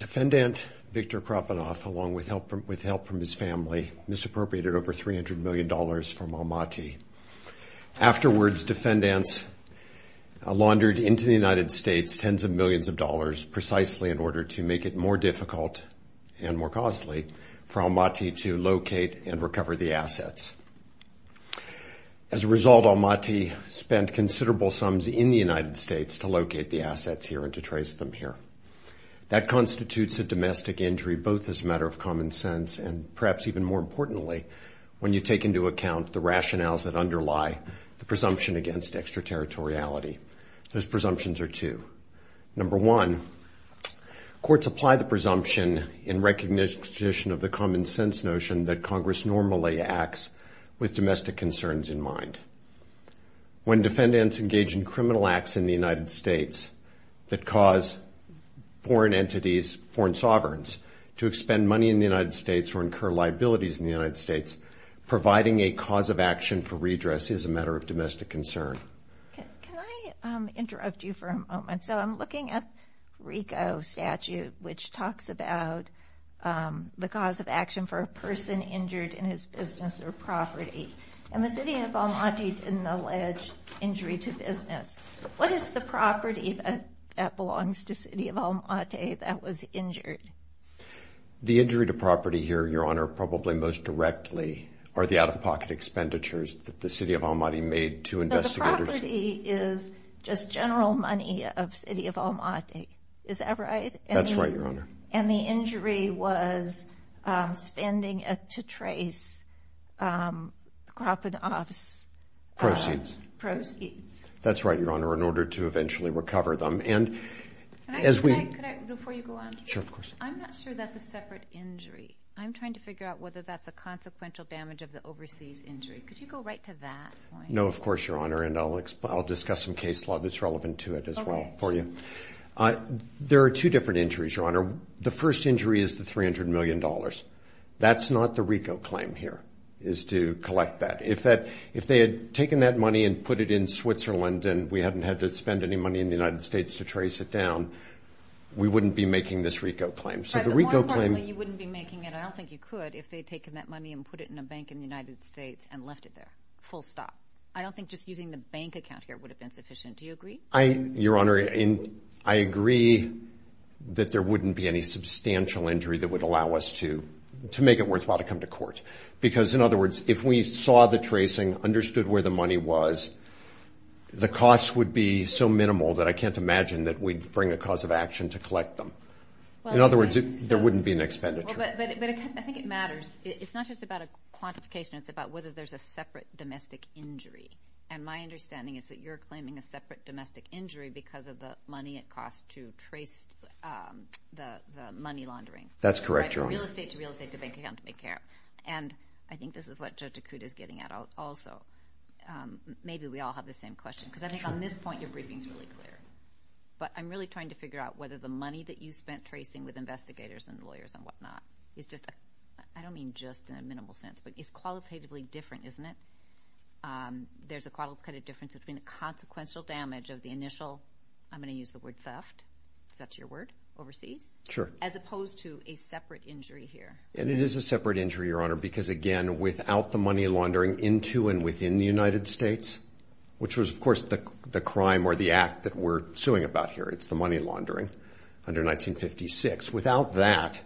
Defendant Viktor Khrapunov, along with help from his family, misappropriated over $300 million from Almaty. Afterwards, defendants laundered into the United States tens of millions of dollars precisely in order to make it more difficult and more costly for Almaty to locate and recover the assets. As a result, Almaty spent considerable sums in the United States to locate the assets here and to trace them here. That constitutes a domestic injury, both as a matter of common sense and, perhaps even more importantly, when you take into account the rationales that underlie the presumption against extraterritoriality. Those presumptions are two. Number one, courts apply the presumption in recognition of the common sense notion that Congress normally acts with domestic concerns in mind. When defendants engage in criminal acts in the United States that cause foreign entities, foreign sovereigns, to expend money in the United States or incur liabilities in the United States, providing a cause of action for redress is a matter of domestic concern. Can I interrupt you for a moment? So I'm looking at RICO statute, which talks about the cause of action for a person injured in his business or property, and the city of Almaty didn't allege injury to business. What is the property that belongs to the city of Almaty that was injured? The injury to property here, Your Honor, probably most directly are the out-of-pocket expenditures that the city of Almaty made to investigators. But the property is just general money of city of Almaty. Is that right? That's right, Your Honor. And the injury was spending to trace Kropotkov's proceeds. That's right, Your Honor, in order to eventually recover them. And as we... Can I, before you go on? Sure, of course. I'm not sure that's a separate injury. I'm trying to figure out whether that's a consequential damage of the overseas injury. Could you go right to that point? No, of course, Your Honor, and I'll discuss some case law that's relevant to it as well for you. Okay. There are two different injuries, Your Honor. The first injury is the $300 million. That's not the RICO claim here, is to collect that. If they had taken that money and put it in Switzerland and we hadn't had to spend any money in the United States to trace it down, we wouldn't be making this RICO claim. So the RICO claim... Right, but more importantly, you wouldn't be making it, I don't think you could, if they had taken that money and put it in a bank in the United States and left it there, full stop. I don't think just using the bank account here would have been sufficient, do you agree? Your Honor, I agree that there wouldn't be any substantial injury that would allow us to make it worthwhile to come to court. Because in other words, if we saw the tracing, understood where the money was, the cost would be so minimal that I can't imagine that we'd bring a cause of action to collect them. In other words, there wouldn't be an expenditure. But I think it matters. It's not just about a quantification, it's about whether there's a separate domestic injury. And my understanding is that you're claiming a separate domestic injury because of the money it costs to trace the money laundering. That's correct, Your Honor. Real estate to real estate to bank account to make care of. And I think this is what Judge Acuda is getting at also. Maybe we all have the same question. Because I think on this point, your briefing's really clear. But I'm really trying to figure out whether the money that you spent tracing with investigators and lawyers and whatnot is just, I don't mean just in a minimal sense, but it's qualitatively different, isn't it? There's a qualitative difference between the consequential damage of the initial, I'm going to use the word theft, is that your word, overseas? Sure. As opposed to a separate injury here. And it is a separate injury, Your Honor, because again, without the money laundering into and within the United States, which was of course the crime or the act that we're suing about here, it's the money laundering under 1956. Without that,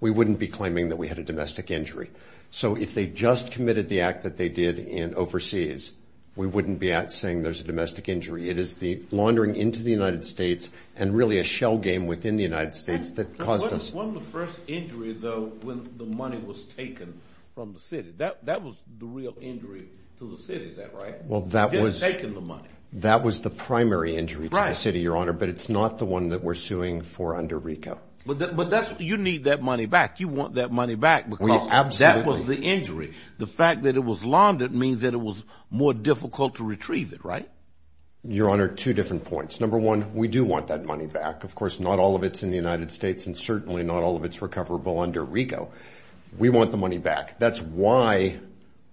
we wouldn't be claiming that we had a domestic injury. So if they just committed the act that they did in overseas, we wouldn't be saying there's a domestic injury. It is the laundering into the United States and really a shell game within the United States that caused us. What was the first injury, though, when the money was taken from the city? That was the real injury to the city, is that right? Well, that was the primary injury to the city, Your Honor. But it's not the one that we're suing for under RICO. But you need that money back. You want that money back because that was the injury. The fact that it was laundered means that it was more difficult to retrieve it, right? Your Honor, two different points. Number one, we do want that money back. Of course, not all of it's in the United States and certainly not all of it's recoverable under RICO. We want the money back. That's why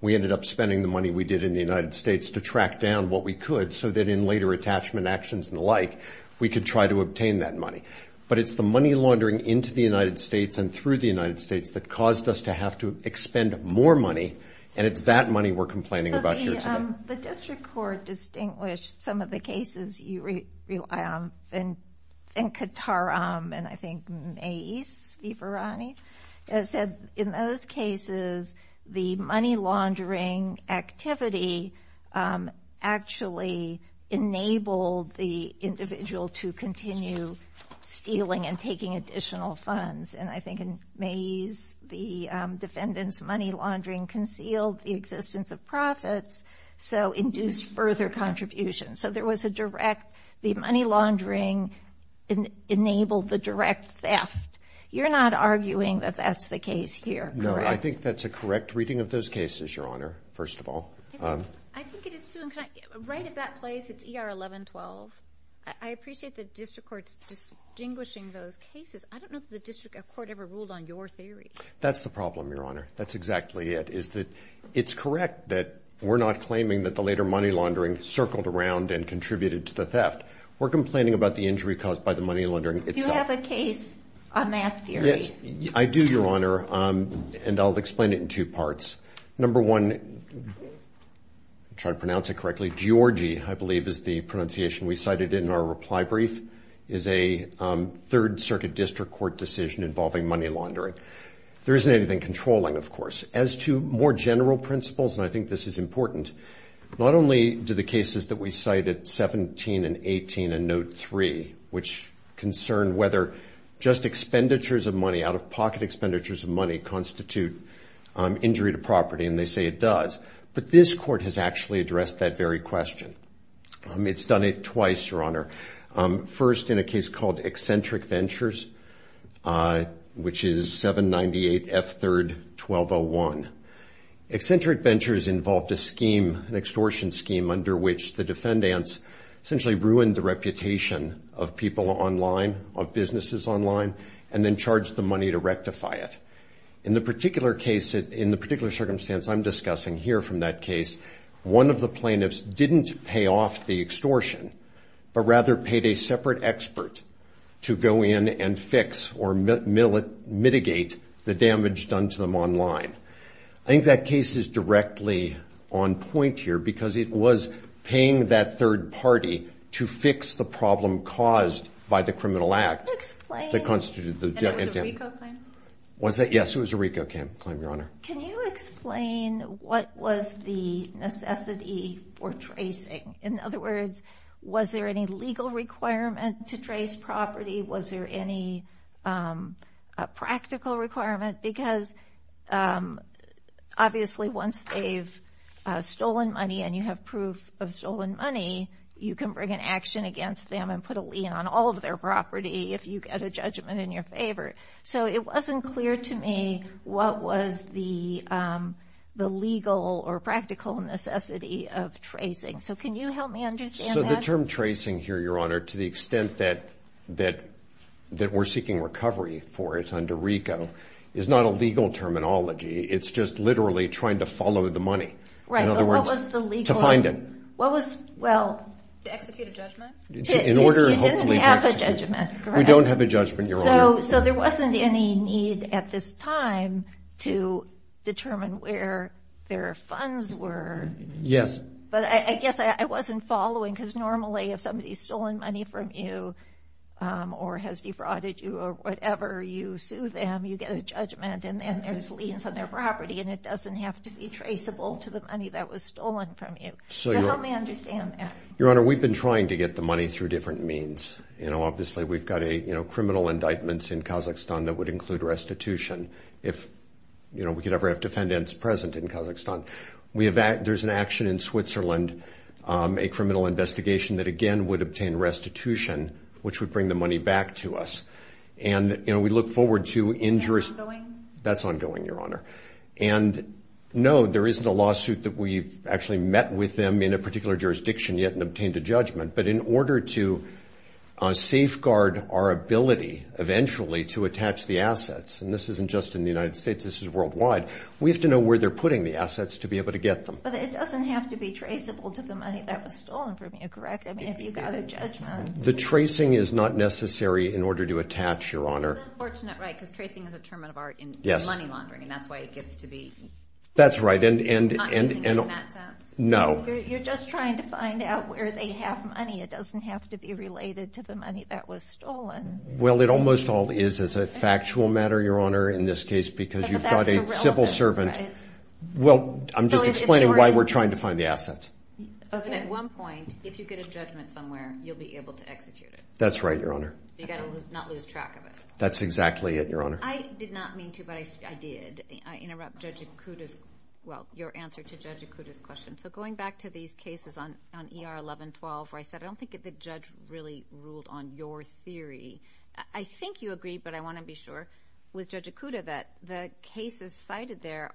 we ended up spending the money we did in the United States to track down what we could so that in later attachment actions and the like, we could try to obtain that money. But it's the money laundering into the United States and through the United States that caused us to have to expend more money, and it's that money we're complaining about here today. The district court distinguished some of the cases you rely on in Kataram and I think Maze, Viverani. It said in those cases, the money laundering activity actually enabled the individual to continue stealing and taking additional funds. And I think in Maze, the defendant's money laundering concealed the existence of profits so induced further contributions. So there was a direct, the money laundering enabled the direct theft. You're not arguing that that's the case here, correct? No, I think that's a correct reading of those cases, Your Honor, first of all. I think it is too, and can I, right at that place, it's ER 1112. I appreciate the district court distinguishing those cases. I don't know if the district court ever ruled on your theory. That's the problem, Your Honor. That's exactly it, is that it's correct that we're not claiming that the later money laundering circled around and contributed to the theft. We're complaining about the injury caused by the money laundering itself. Do you have a case on math, Giorgi? I do, Your Honor, and I'll explain it in two parts. Number one, try to pronounce it correctly, Giorgi, I believe is the pronunciation we cited in our reply brief, is a third circuit district court decision involving money laundering. There isn't anything controlling, of course. As to more general principles, and I think this is important, not only do the cases that we cited, 17 and 18, and note 3, which concern whether just expenditures of money, out-of-pocket expenditures of money, constitute injury to property, and they say it does, but this court has actually addressed that very question. It's done it twice, Your Honor. First, in a case called Eccentric Ventures, which is 798F3-1201. Eccentric Ventures involved a scheme, an extortion scheme, under which the defendants essentially ruined the reputation of people online, of businesses online, and then charged the money to rectify it. In the particular case, in the particular circumstance I'm discussing here from that case, one of the plaintiffs didn't pay off the extortion, but rather paid a separate expert to go in and fix, or mitigate, the damage done to them online. I think that case is directly on point here, because it was paying that third party to fix the problem caused by the criminal act that constituted the debt. Can you explain? And it was a RICO claim? Was it? Yes, it was a RICO claim, Your Honor. Can you explain what was the necessity for tracing? In other words, was there any legal requirement to trace property? Was there any practical requirement? Because obviously, once they've stolen money and you have proof of stolen money, you can bring an action against them and put a lien on all of their property if you get a judgment in your favor. So it wasn't clear to me what was the legal or practical necessity of tracing. So can you help me understand that? So the term tracing here, Your Honor, to the extent that we're seeking recovery for it under RICO, is not a legal terminology. It's just literally trying to follow the money. Right. In other words, to find it. What was the legal... To execute a judgment? You didn't have a judgment. Correct. We don't have a judgment, Your Honor. So there wasn't any need at this time to determine where their funds were. Yes. But I guess I wasn't following, because normally if somebody's stolen money from you or has defrauded you or whatever, you sue them, you get a judgment, and then there's liens on their property, and it doesn't have to be traceable to the money that was stolen from you. So help me understand that. Your Honor, we've been trying to get the money through different means. Obviously we've got criminal indictments in Kazakhstan that would include restitution, if we could ever have defendants present in Kazakhstan. There's an action in Switzerland, a criminal investigation, that again would obtain restitution, which would bring the money back to us. And we look forward to injuries... Is that ongoing? That's ongoing, Your Honor. And no, there isn't a lawsuit that we've actually met with them in a particular jurisdiction yet and obtained a judgment. But in order to safeguard our ability eventually to attach the assets, and this isn't just in the United States, this is worldwide, we have to know where they're putting the assets to be able to get them. But it doesn't have to be traceable to the money that was stolen from you, correct? I mean, have you got a judgment? The tracing is not necessary in order to attach, Your Honor. That's unfortunate, right? Because tracing is a term of art in money laundering, and that's why it gets to be... That's right, and... Not using it in that sense? No. You're just trying to find out where they have money. It doesn't have to be related to the money that was stolen. Well, it almost all is as a factual matter, Your Honor, in this case, because you've got a civil servant... But that's irrelevant, right? Well, I'm just explaining why we're trying to find the assets. Okay. So then at one point, if you get a judgment somewhere, you'll be able to execute it? That's right, Your Honor. So you've got to not lose track of it? That's exactly it, Your Honor. I did not mean to, but I did. I interrupt Judge Ikuda's... Well, your answer to Judge Ikuda's question. So going back to these cases on ER 1112, where I said, I don't think that the judge really ruled on your theory. I think you agree, but I want to be sure, with Judge Ikuda, that the cases cited there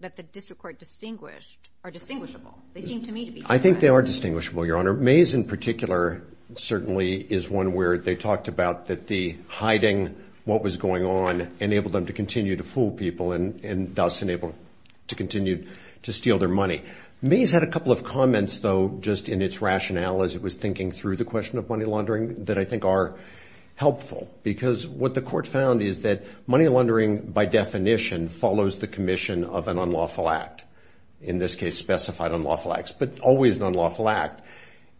that the district court distinguished are distinguishable. They seem to me to be distinguishable. I think they are distinguishable, Your Honor. Mays, in particular, certainly is one where they talked about that the hiding, what was going on, enabled them to continue to fool people and thus enabled to continue to steal their money. Mays had a couple of comments, though, just in its rationale, as it was thinking through the question of money laundering, that I think are helpful, because what the court found is that money laundering, by definition, follows the commission of an unlawful act. In this case, specified unlawful acts, but always an unlawful act.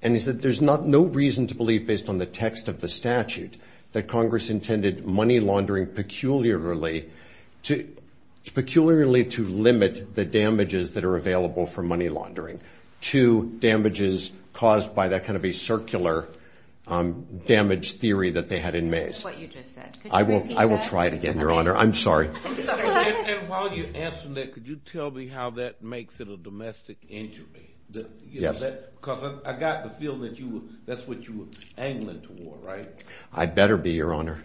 And he said there's no reason to believe, based on the text of the statute, that Congress intended money laundering peculiarly to limit the damages that are available from money laundering to damages caused by that kind of a circular damage theory that they had in Mays. What you just said. I will try it again, Your Honor. I'm sorry. I'm sorry. And while you're answering that, could you tell me how that makes it a domestic injury? Yes. Because I got the feeling that that's what you were angling toward, right? I better be, Your Honor.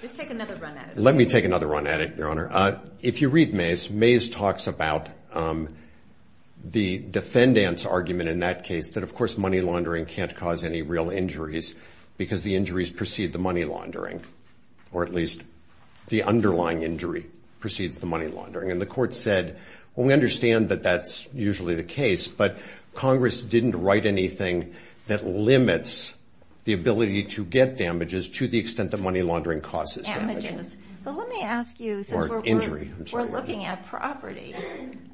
Just take another run at it. Let me take another run at it, Your Honor. If you read Mays, Mays talks about the defendant's argument in that case that, of course, money because the injuries precede the money laundering, or at least the underlying injury precedes the money laundering. And the court said, well, we understand that that's usually the case, but Congress didn't write anything that limits the ability to get damages to the extent that money laundering causes damages. Damages. But let me ask you, since we're looking at property.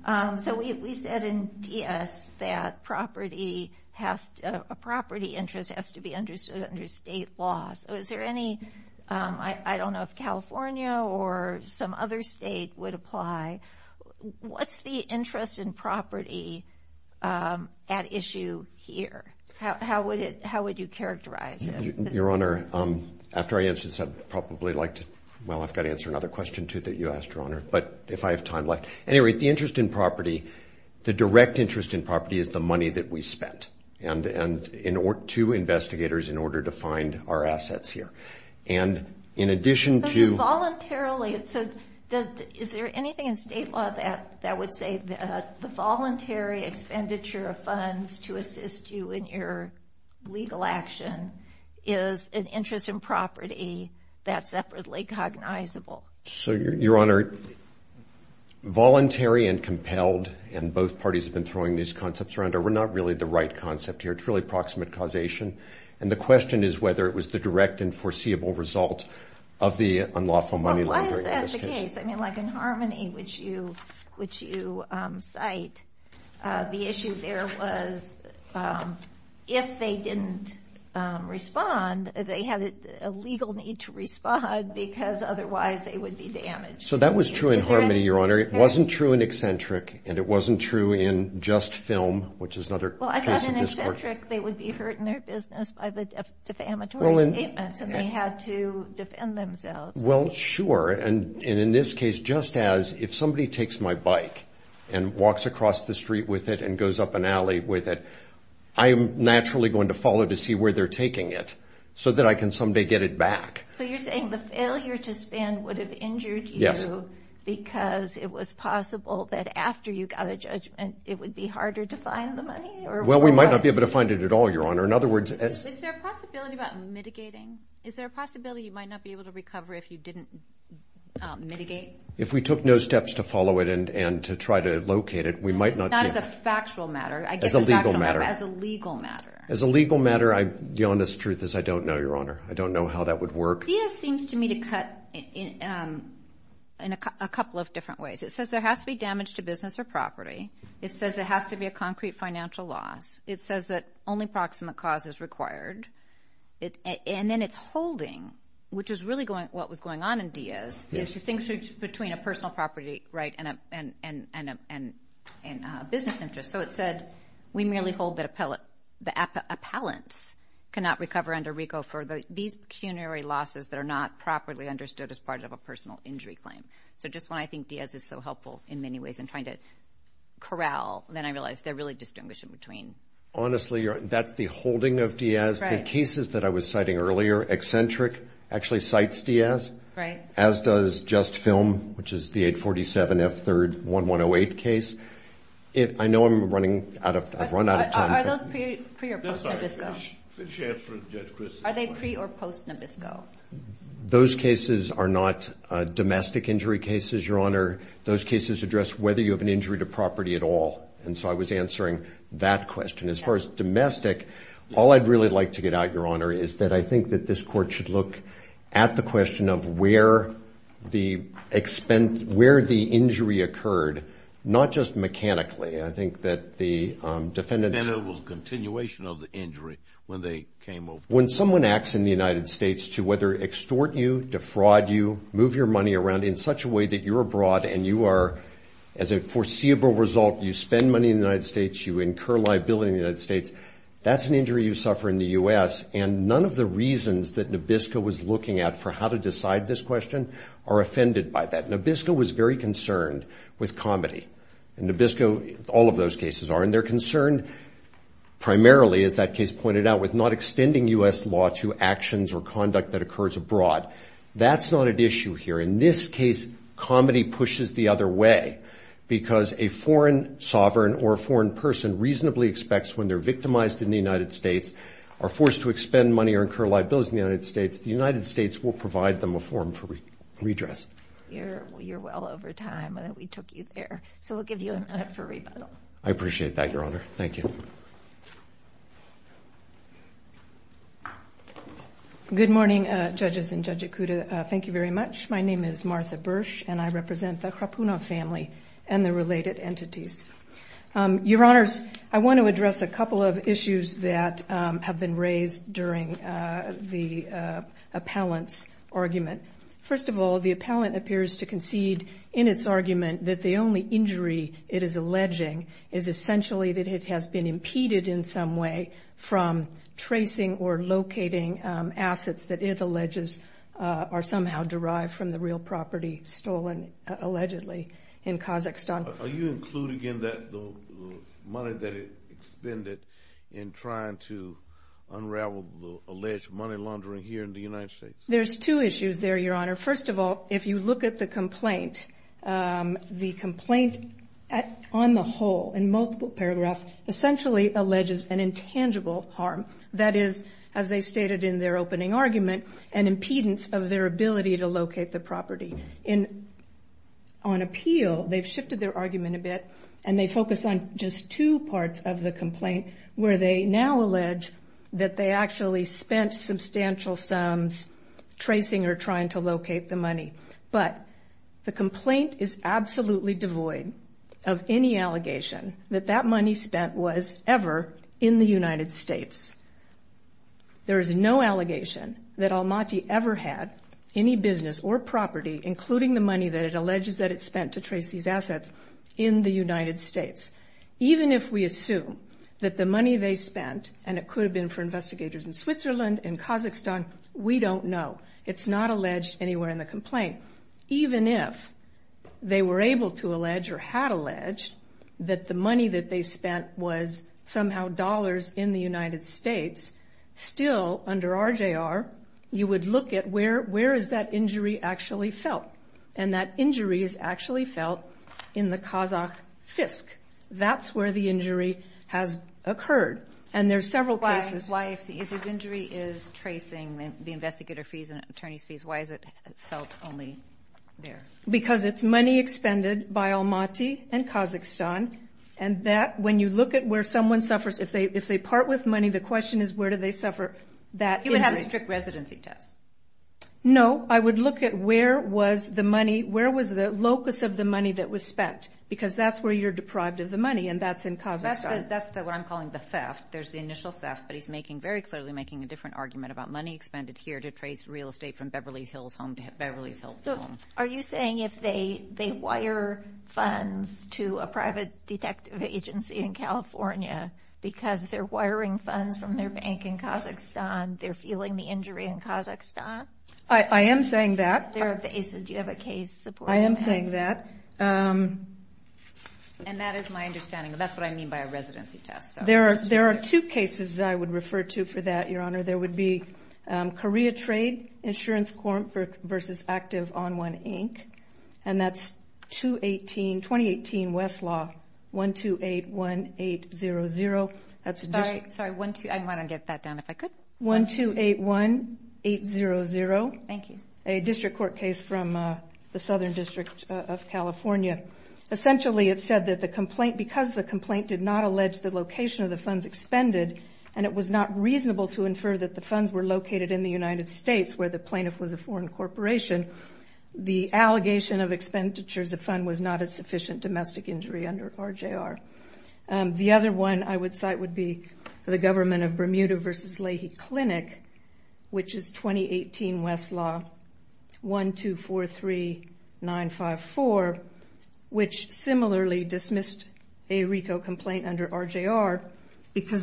So we said in DS that property has to, a property interest has to be understood under state law. So is there any, I don't know if California or some other state would apply. What's the interest in property at issue here? How would it, how would you characterize it? Your Honor, after I answer this, I'd probably like to, well, I've got to answer another question too that you asked, Your Honor. But if I have time left, at any rate, the interest in property, the direct interest in property is the money that we spent and in order to investigators in order to find our assets here. And in addition to voluntarily, so does, is there anything in state law that that would say that the voluntary expenditure of funds to assist you in your legal action is an interest in property that's separately cognizable? So, Your Honor, voluntary and compelled, and both parties have been throwing these concepts around, are not really the right concept here. It's really proximate causation. And the question is whether it was the direct and foreseeable result of the unlawful money laundering. Well, why is that the case? I mean, like in Harmony, which you, which you cite, the issue there was if they didn't respond, they had a legal need to respond because otherwise they would be damaged. So that was true in Harmony, Your Honor. It wasn't true in Eccentric, and it wasn't true in Just Film, which is another case of Well, I thought in Eccentric they would be hurt in their business by the defamatory statements and they had to defend themselves. Well, sure. And in this case, just as if somebody takes my bike and walks across the street with it and goes up an alley with it, I'm naturally going to follow to see where they're taking it so that I can someday get it back. So you're saying the failure to spend would have injured you because it was possible that after you got a judgment, it would be harder to find the money? Or Well, we might not be able to find it at all, Your Honor. In other words Is there a possibility about mitigating? Is there a possibility you might not be able to recover if you didn't mitigate? If we took no steps to follow it and to try to locate it, we might not As a factual matter As a legal matter I guess a factual matter, but as a legal matter As a legal matter, the honest truth is I don't know, Your Honor. I don't know how that would work. DIAZ seems to me to cut in a couple of different ways. It says there has to be damage to business or property. It says there has to be a concrete financial loss. It says that only proximate cause is required. And then it's holding, which is really what was going on in DIAZ, is distinction between a personal property, right, and a business interest. So it said we merely hold that the appellant cannot recover under RICO for these pecuniary losses that are not properly understood as part of a personal injury claim. So just when I think DIAZ is so helpful in many ways in trying to corral, then I realize they're really distinguishing between Honestly, Your Honor, that's the holding of DIAZ. The cases that I was citing earlier, Eccentric, actually cites DIAZ, as does Just Film, which is the 847 F3rd 1108 case. I know I've run out of time. Are those pre or post Nabisco? Are they pre or post Nabisco? Those cases are not domestic injury cases, Your Honor. Those cases address whether you have an injury to property at all. And so I was answering that question. As far as domestic, all I'd really like to get out, Your Honor, is that I think that this Court should look at the question of where the injury occurred, not just mechanically. I think that the defendants Defendant was a continuation of the injury when they came over. When someone acts in the United States to whether extort you, defraud you, move your money around in such a way that you're abroad and you are, as a foreseeable result, you spend money in the United States, you incur liability in the United States, that's an injury you suffer in the U.S. And none of the reasons that Nabisco was looking at for how to decide this question are offended by that. Nabisco was very concerned with comedy. Nabisco, all of those cases are, and they're concerned primarily, as that case pointed out, with not extending U.S. law to actions or conduct that occurs abroad. That's not at issue here. In this case, comedy pushes the other way because a foreign sovereign or a foreign person reasonably expects when they're victimized in the United States, are forced to expend money or incur liabilities in the United States, the United States will provide them a forum for redress. You're well over time. We took you there. So we'll give you a minute for rebuttal. I appreciate that, Your Honor. Thank you. Good morning, Judges and Judge Ikuda. Thank you very much. My name is Martha Bursch, and I represent the Krapunov family and the related entities. Your Honors, I want to address a couple of issues that have been raised during the appellant's argument. First of all, the appellant appears to concede in its argument that the only injury it is alleging is essentially that it has been impeded in some way from tracing or locating assets that it alleges are somehow derived from the real property stolen, allegedly, in Kazakhstan. Are you including in that the money that it expended in trying to unravel the alleged money laundering here in the United States? There's two issues there, Your Honor. First of all, if you look at the complaint, the complaint on the whole, in multiple paragraphs, essentially alleges an intangible harm. That is, as they stated in their opening argument, an impedance of their ability to locate the property. On appeal, they've shifted their argument a bit, and they focus on just two parts of the complaint, where they now allege that they actually spent substantial sums tracing or trying to locate the money. But the complaint is absolutely devoid of any allegation that that money spent was ever in the United States. There is no allegation that Almaty ever had any business or property, including the money that it alleges that it spent to trace these assets, in the United States. Even if we assume that the money they spent, and it could have been for investigators in Switzerland, in Kazakhstan, we don't know. It's not alleged anywhere in the complaint. Even if they were able to allege or had alleged that the money that they spent was somehow dollars in the United States, still, under RJR, you would look at where is that injury actually felt. And that injury is actually felt in the Kazakh fisk. That's where the injury has occurred. And there's several places. Why? If this injury is tracing the investigator fees and attorney's fees, why is it felt only there? Because it's money expended by Almaty and Kazakhstan, and that, when you look at where someone suffers, if they part with money, the question is, where do they suffer that injury? You would have a strict residency test. No. I would look at where was the money, where was the locus of the money that was spent? Because that's where you're deprived of the money, and that's in Kazakhstan. That's what I'm calling the theft. There's the initial theft, but he's making, very clearly making a different argument about money expended here to trace real estate from Beverly Hills home to Beverly Hills home. Are you saying if they wire funds to a private detective agency in California because they're wiring funds from their bank in Kazakhstan, they're feeling the injury in Kazakhstan? I am saying that. Do you have a case supporting that? I am saying that. And that is my understanding. That's what I mean by a residency test. There are two cases I would refer to for that, Your Honor. There would be Korea Trade Insurance Corp. v. Active On1, Inc., and that's 2018 West Law 1281800. Sorry. I'm going to get that down if I could. 1281800. Thank you. A district court case from the Southern District of California. Essentially it said that because the complaint did not allege the location of the funds expended and it was not reasonable to infer that the funds were located in the United States where the plaintiff was a foreign corporation, the allegation of expenditures of fund was not a sufficient domestic injury under RJR. The other one I would cite would be the government of Bermuda v. Leahy Clinic, which is 2018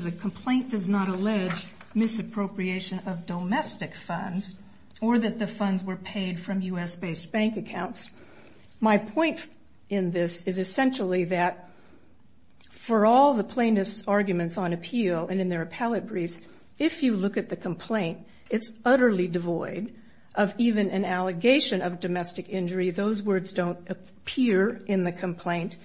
The complaint does not allege misappropriation of domestic funds or that the funds were paid from U.S.-based bank accounts. My point in this is essentially that for all the plaintiff's arguments on appeal and in their appellate briefs, if you look at the complaint, it's utterly devoid of even an allegation of domestic injury. Those words don't appear in the complaint.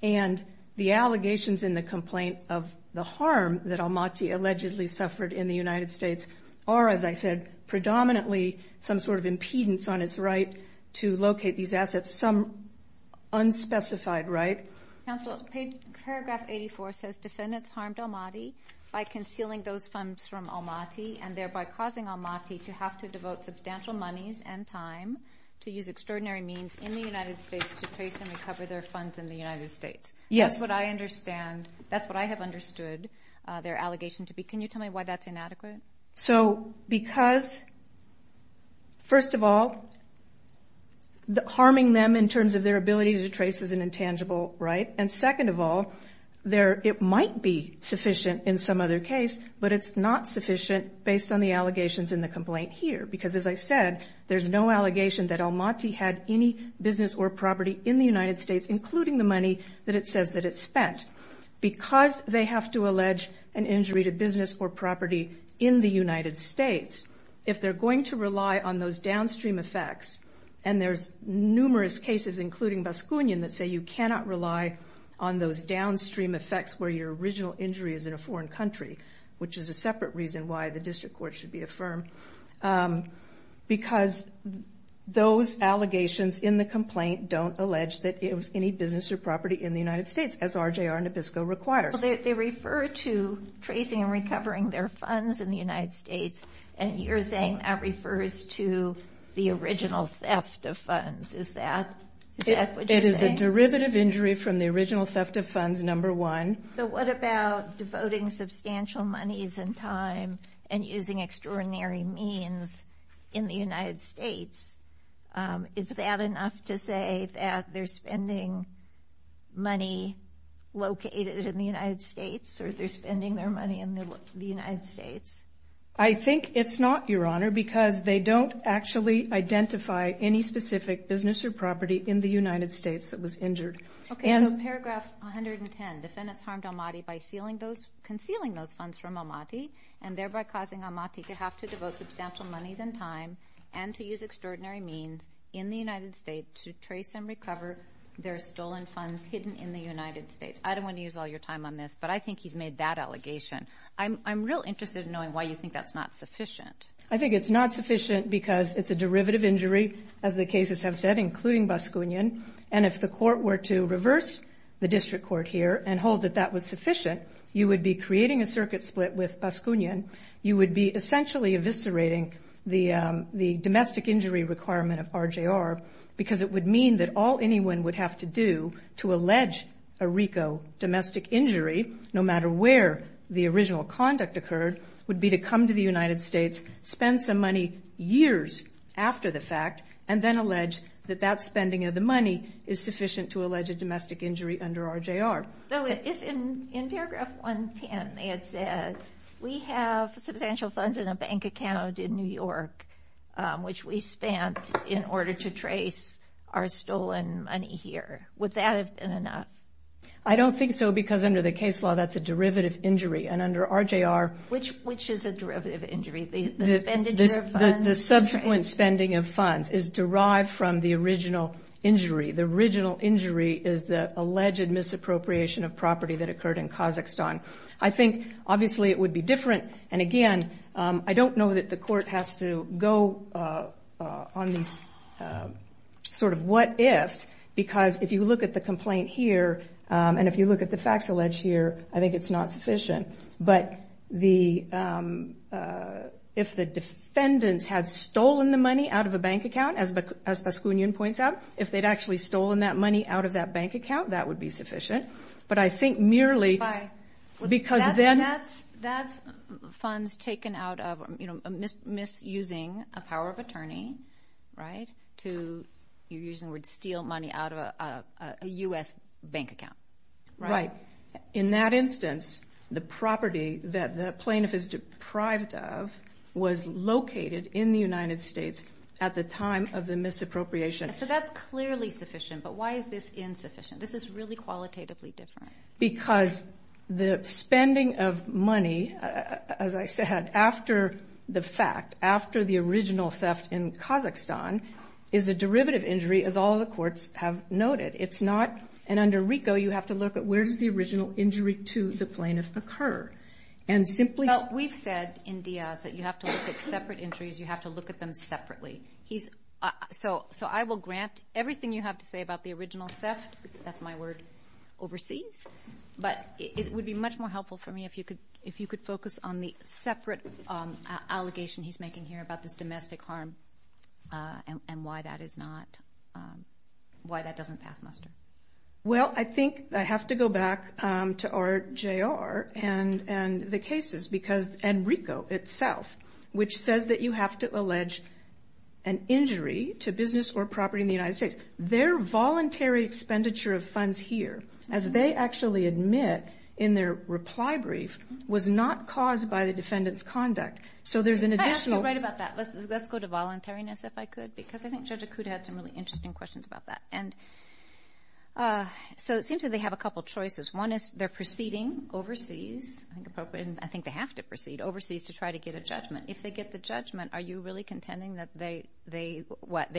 And the allegations in the complaint of the harm that Almaty allegedly suffered in the United States are, as I said, predominantly some sort of impedance on its right to locate these assets, some unspecified right. Counsel, paragraph 84 says defendants harmed Almaty by concealing those funds from Almaty and thereby causing Almaty to have to devote substantial monies and time to use extraordinary means in the United States to trace and recover their funds in the United States. Yes. That's what I understand. That's what I have understood their allegation to be. Can you tell me why that's inadequate? So because, first of all, harming them in terms of their ability to trace is an intangible right. And second of all, it might be sufficient in some other case, but it's not sufficient based on the allegations in the complaint here. Because, as I said, there's no allegation that Almaty had any business or property in the United States, including the money that it says that it spent. Because they have to allege an injury to business or property in the United States, if they're going to rely on those downstream effects, and there's numerous cases, including Baskunin, that say you cannot rely on those downstream effects where your original injury is in a Because those allegations in the complaint don't allege that it was any business or property in the United States, as RJR Nabisco requires. They refer to tracing and recovering their funds in the United States, and you're saying that refers to the original theft of funds. Is that what you're saying? It is a derivative injury from the original theft of funds, number one. So what about devoting substantial monies and time and using extraordinary means in the United States? Is that enough to say that they're spending money located in the United States, or they're spending their money in the United States? I think it's not, Your Honor, because they don't actually identify any specific business or property in the United States that was injured. Okay, so paragraph 110, defendants harmed Almaty by concealing those funds from Almaty, and thereby causing Almaty to have to devote substantial monies and time and to use extraordinary means in the United States to trace and recover their stolen funds hidden in the United States. I don't want to use all your time on this, but I think he's made that allegation. I'm real interested in knowing why you think that's not sufficient. I think it's not sufficient because it's a derivative injury, as the cases have said, including Baskunian, and if the court were to reverse the district court here and hold that that was sufficient, you would be creating a circuit split with Baskunian. You would be essentially eviscerating the domestic injury requirement of RJR because it would mean that all anyone would have to do to allege a RICO domestic injury, no matter where the original conduct occurred, would be to come to the United States, spend some money years after the fact, and then allege that that spending of the money is sufficient to allege a domestic injury under RJR. So if in paragraph 110 they had said, we have substantial funds in a bank account in New York, which we spent in order to trace our stolen money here, would that have been enough? I don't think so, because under the case law, that's a derivative injury, and under RJR Which is a derivative injury? The expenditure of funds? The subsequent spending of funds is derived from the original injury. The original injury is the alleged misappropriation of property that occurred in Kazakhstan. I think obviously it would be different, and again, I don't know that the court has to go on these sort of what-ifs, because if you look at the complaint here, and if you look at the facts alleged here, I think it's not sufficient. But if the defendants had stolen the money out of a bank account, as Paskunyan points out, if they'd actually stolen that money out of that bank account, that would be sufficient. But I think merely because then... That's funds taken out of misusing a power of attorney, right, to, you're using the word bank account. Right. In that instance, the property that the plaintiff is deprived of was located in the United States at the time of the misappropriation. So that's clearly sufficient, but why is this insufficient? This is really qualitatively different. Because the spending of money, as I said, after the fact, after the original theft in Kazakhstan, is a derivative injury, as all the courts have noted. It's not... And under RICO, you have to look at where does the original injury to the plaintiff occur? And simply... Well, we've said in Diaz that you have to look at separate injuries, you have to look at them separately. So I will grant everything you have to say about the original theft, that's my word, overseas. But it would be much more helpful for me if you could focus on the separate allegation he's making here about this domestic harm, and why that is not... Why that doesn't pass muster. Well, I think I have to go back to RJR and the cases, and RICO itself, which says that you have to allege an injury to business or property in the United States. Their voluntary expenditure of funds here, as they actually admit in their reply brief, was not caused by the defendant's conduct. So there's an additional... Actually, you're right about that. Let's go to voluntariness, if I could, because I think Judge Acuda had some really interesting questions about that. And so it seems that they have a couple of choices. One is they're proceeding overseas, and I think they have to proceed overseas to try to get a judgment. If they get the judgment, are you really contending that they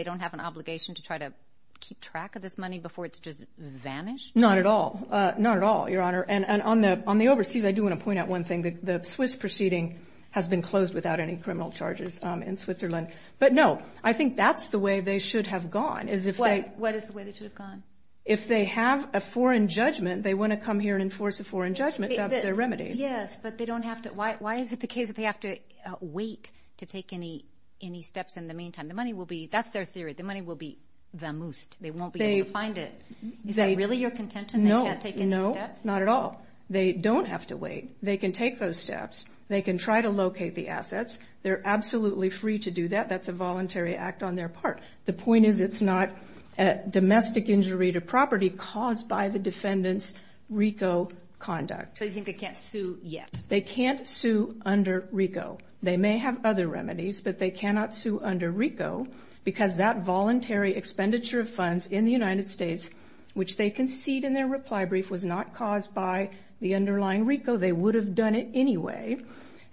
don't have an obligation to try to keep track of this money before it's just vanished? Not at all. Not at all, Your Honor. And on the overseas, I do want to point out one thing. The Swiss proceeding has been closed without any criminal charges in Switzerland. But no, I think that's the way they should have gone, is if they... What is the way they should have gone? If they have a foreign judgment, they want to come here and enforce a foreign judgment. That's their remedy. Yes, but they don't have to... Why is it the case that they have to wait to take any steps in the meantime? The money will be... That's their theory. The money will be the most. They won't be able to find it. Is that really your contention? They can't take any steps? No. No, not at all. They don't have to wait. They can take those steps. They can try to locate the assets. They're absolutely free to do that. That's a voluntary act on their part. The point is it's not a domestic injury to property caused by the defendant's RICO conduct. So you think they can't sue yet? They can't sue under RICO. They may have other remedies, but they cannot sue under RICO because that voluntary expenditure of funds in the United States, which they concede in their reply brief, was not caused by the underlying RICO. They would have done it anyway,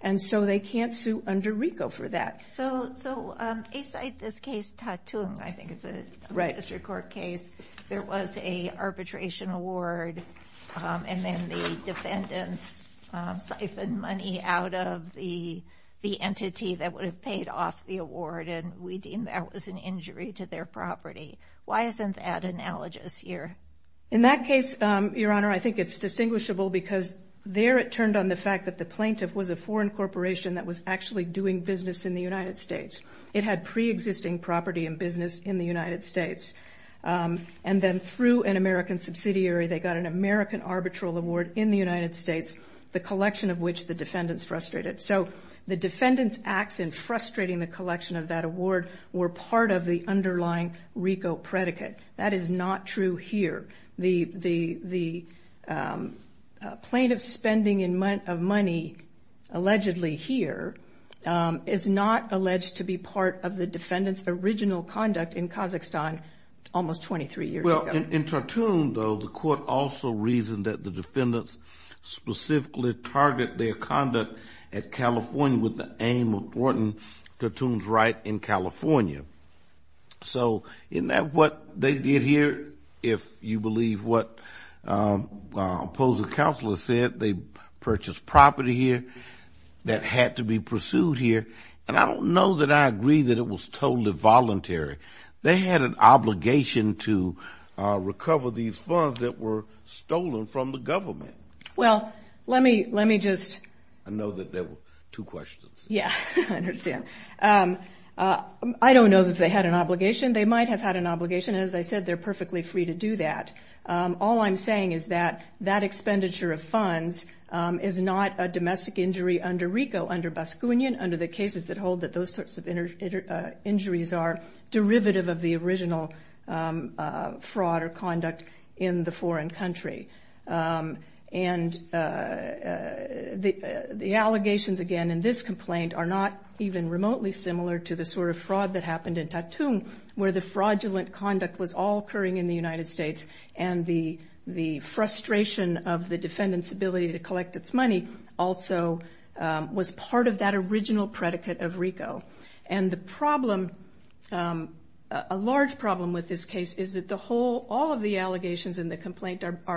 and so they can't sue under RICO for that. So aside this case Tatung, I think it's a district court case, there was a arbitration award and then the defendants siphoned money out of the entity that would have paid off the award, and we deem that was an injury to their property. Why isn't that analogous here? In that case, Your Honor, I think it's distinguishable because there it turned on the fact that the plaintiff was a foreign corporation that was actually doing business in the United States. It had pre-existing property and business in the United States, and then through an American subsidiary, they got an American arbitral award in the United States, the collection of which the defendants frustrated. So the defendants' acts in frustrating the collection of that award were part of the underlying RICO predicate. That is not true here. The plaintiff's spending of money allegedly here is not alleged to be part of the defendants' original conduct in Kazakhstan almost 23 years ago. Well, in Tatung, though, the court also reasoned that the defendants specifically targeted their conduct at California with the aim of thwarting Tatung's right in California. So isn't that what they did here? If you believe what the opposing counselor said, they purchased property here that had to be pursued here, and I don't know that I agree that it was totally voluntary. They had an obligation to recover these funds that were stolen from the government. Well, let me just... I know that there were two questions. Yeah, I understand. I don't know that they had an obligation. They might have had an obligation. As I said, they're perfectly free to do that. All I'm saying is that that expenditure of funds is not a domestic injury under RICO, under Baskunin, under the cases that hold that those sorts of injuries are derivative of the original fraud or conduct in the foreign country. And the allegations, again, in this complaint are not even remotely similar to the sort of fraud that happened in Tatung, where the fraudulent conduct was all occurring in the United States, and the frustration of the defendant's ability to collect its money also was part of that original predicate of RICO. And the problem, a large problem with this case, is that the whole... are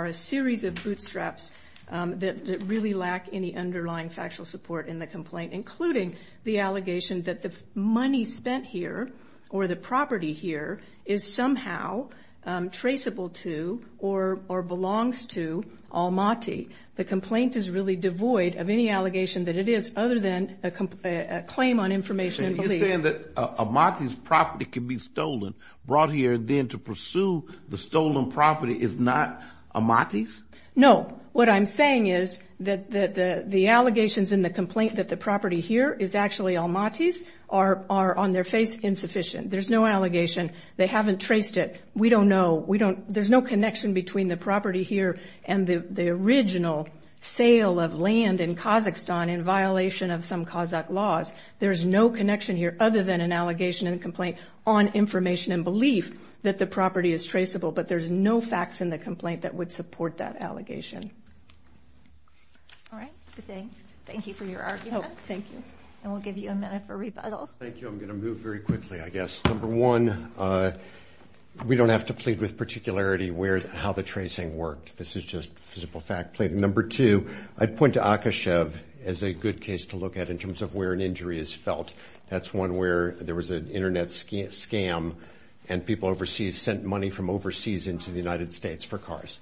a series of bootstraps that really lack any underlying factual support in the complaint, including the allegation that the money spent here or the property here is somehow traceable to or belongs to Almaty. The complaint is really devoid of any allegation that it is other than a claim on information. You're saying that Almaty's property can be stolen, brought here, and then to pursue the stolen property is not Almaty's? No. What I'm saying is that the allegations in the complaint that the property here is actually Almaty's are on their face insufficient. There's no allegation. They haven't traced it. We don't know. We don't... There's no connection between the property here and the original sale of land in Kazakhstan in violation of some Kazakh laws. There's no connection here other than an allegation in the complaint on information and belief that the property is traceable, but there's no facts in the complaint that would support that allegation. All right. Thanks. Thank you for your argument. Thank you. And we'll give you a minute for rebuttal. Thank you. I'm going to move very quickly, I guess. Number one, we don't have to plead with particularity how the tracing worked. This is just physical fact. Number two, I'd point to Akashev as a good case to look at in terms of where an injury is felt. That's one where there was an Internet scam, and people overseas sent money from overseas into the United States for cars.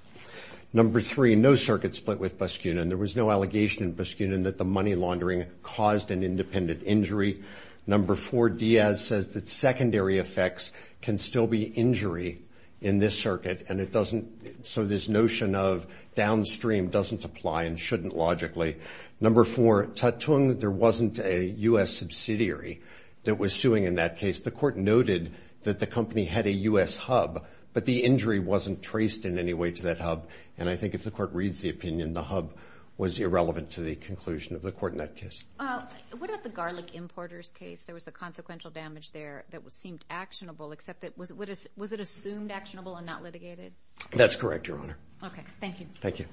Number three, no circuit split with Baskunin. There was no allegation in Baskunin that the money laundering caused an independent injury. Number four, Diaz says that secondary effects can still be injury in this circuit, and it doesn't so this notion of downstream doesn't apply and shouldn't logically. Number four, Tatung, there wasn't a U.S. subsidiary that was suing in that case. The court noted that the company had a U.S. hub, but the injury wasn't traced in any way to that hub, and I think if the court reads the opinion, the hub was irrelevant to the conclusion of the court in that case. What about the garlic importers case? There was a consequential damage there that seemed actionable, except that was it assumed actionable and not litigated? That's correct, Your Honor. Okay, thank you. Thank you.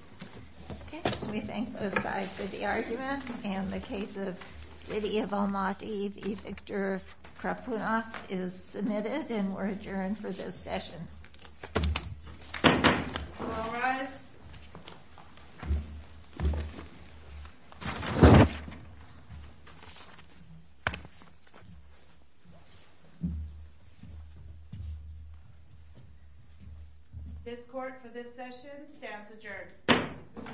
Okay, we thank both sides for the argument, and the case of City of Almaty v. Victor Krapunov is submitted, and we're adjourned for this session. All rise. This court for this session stands adjourned.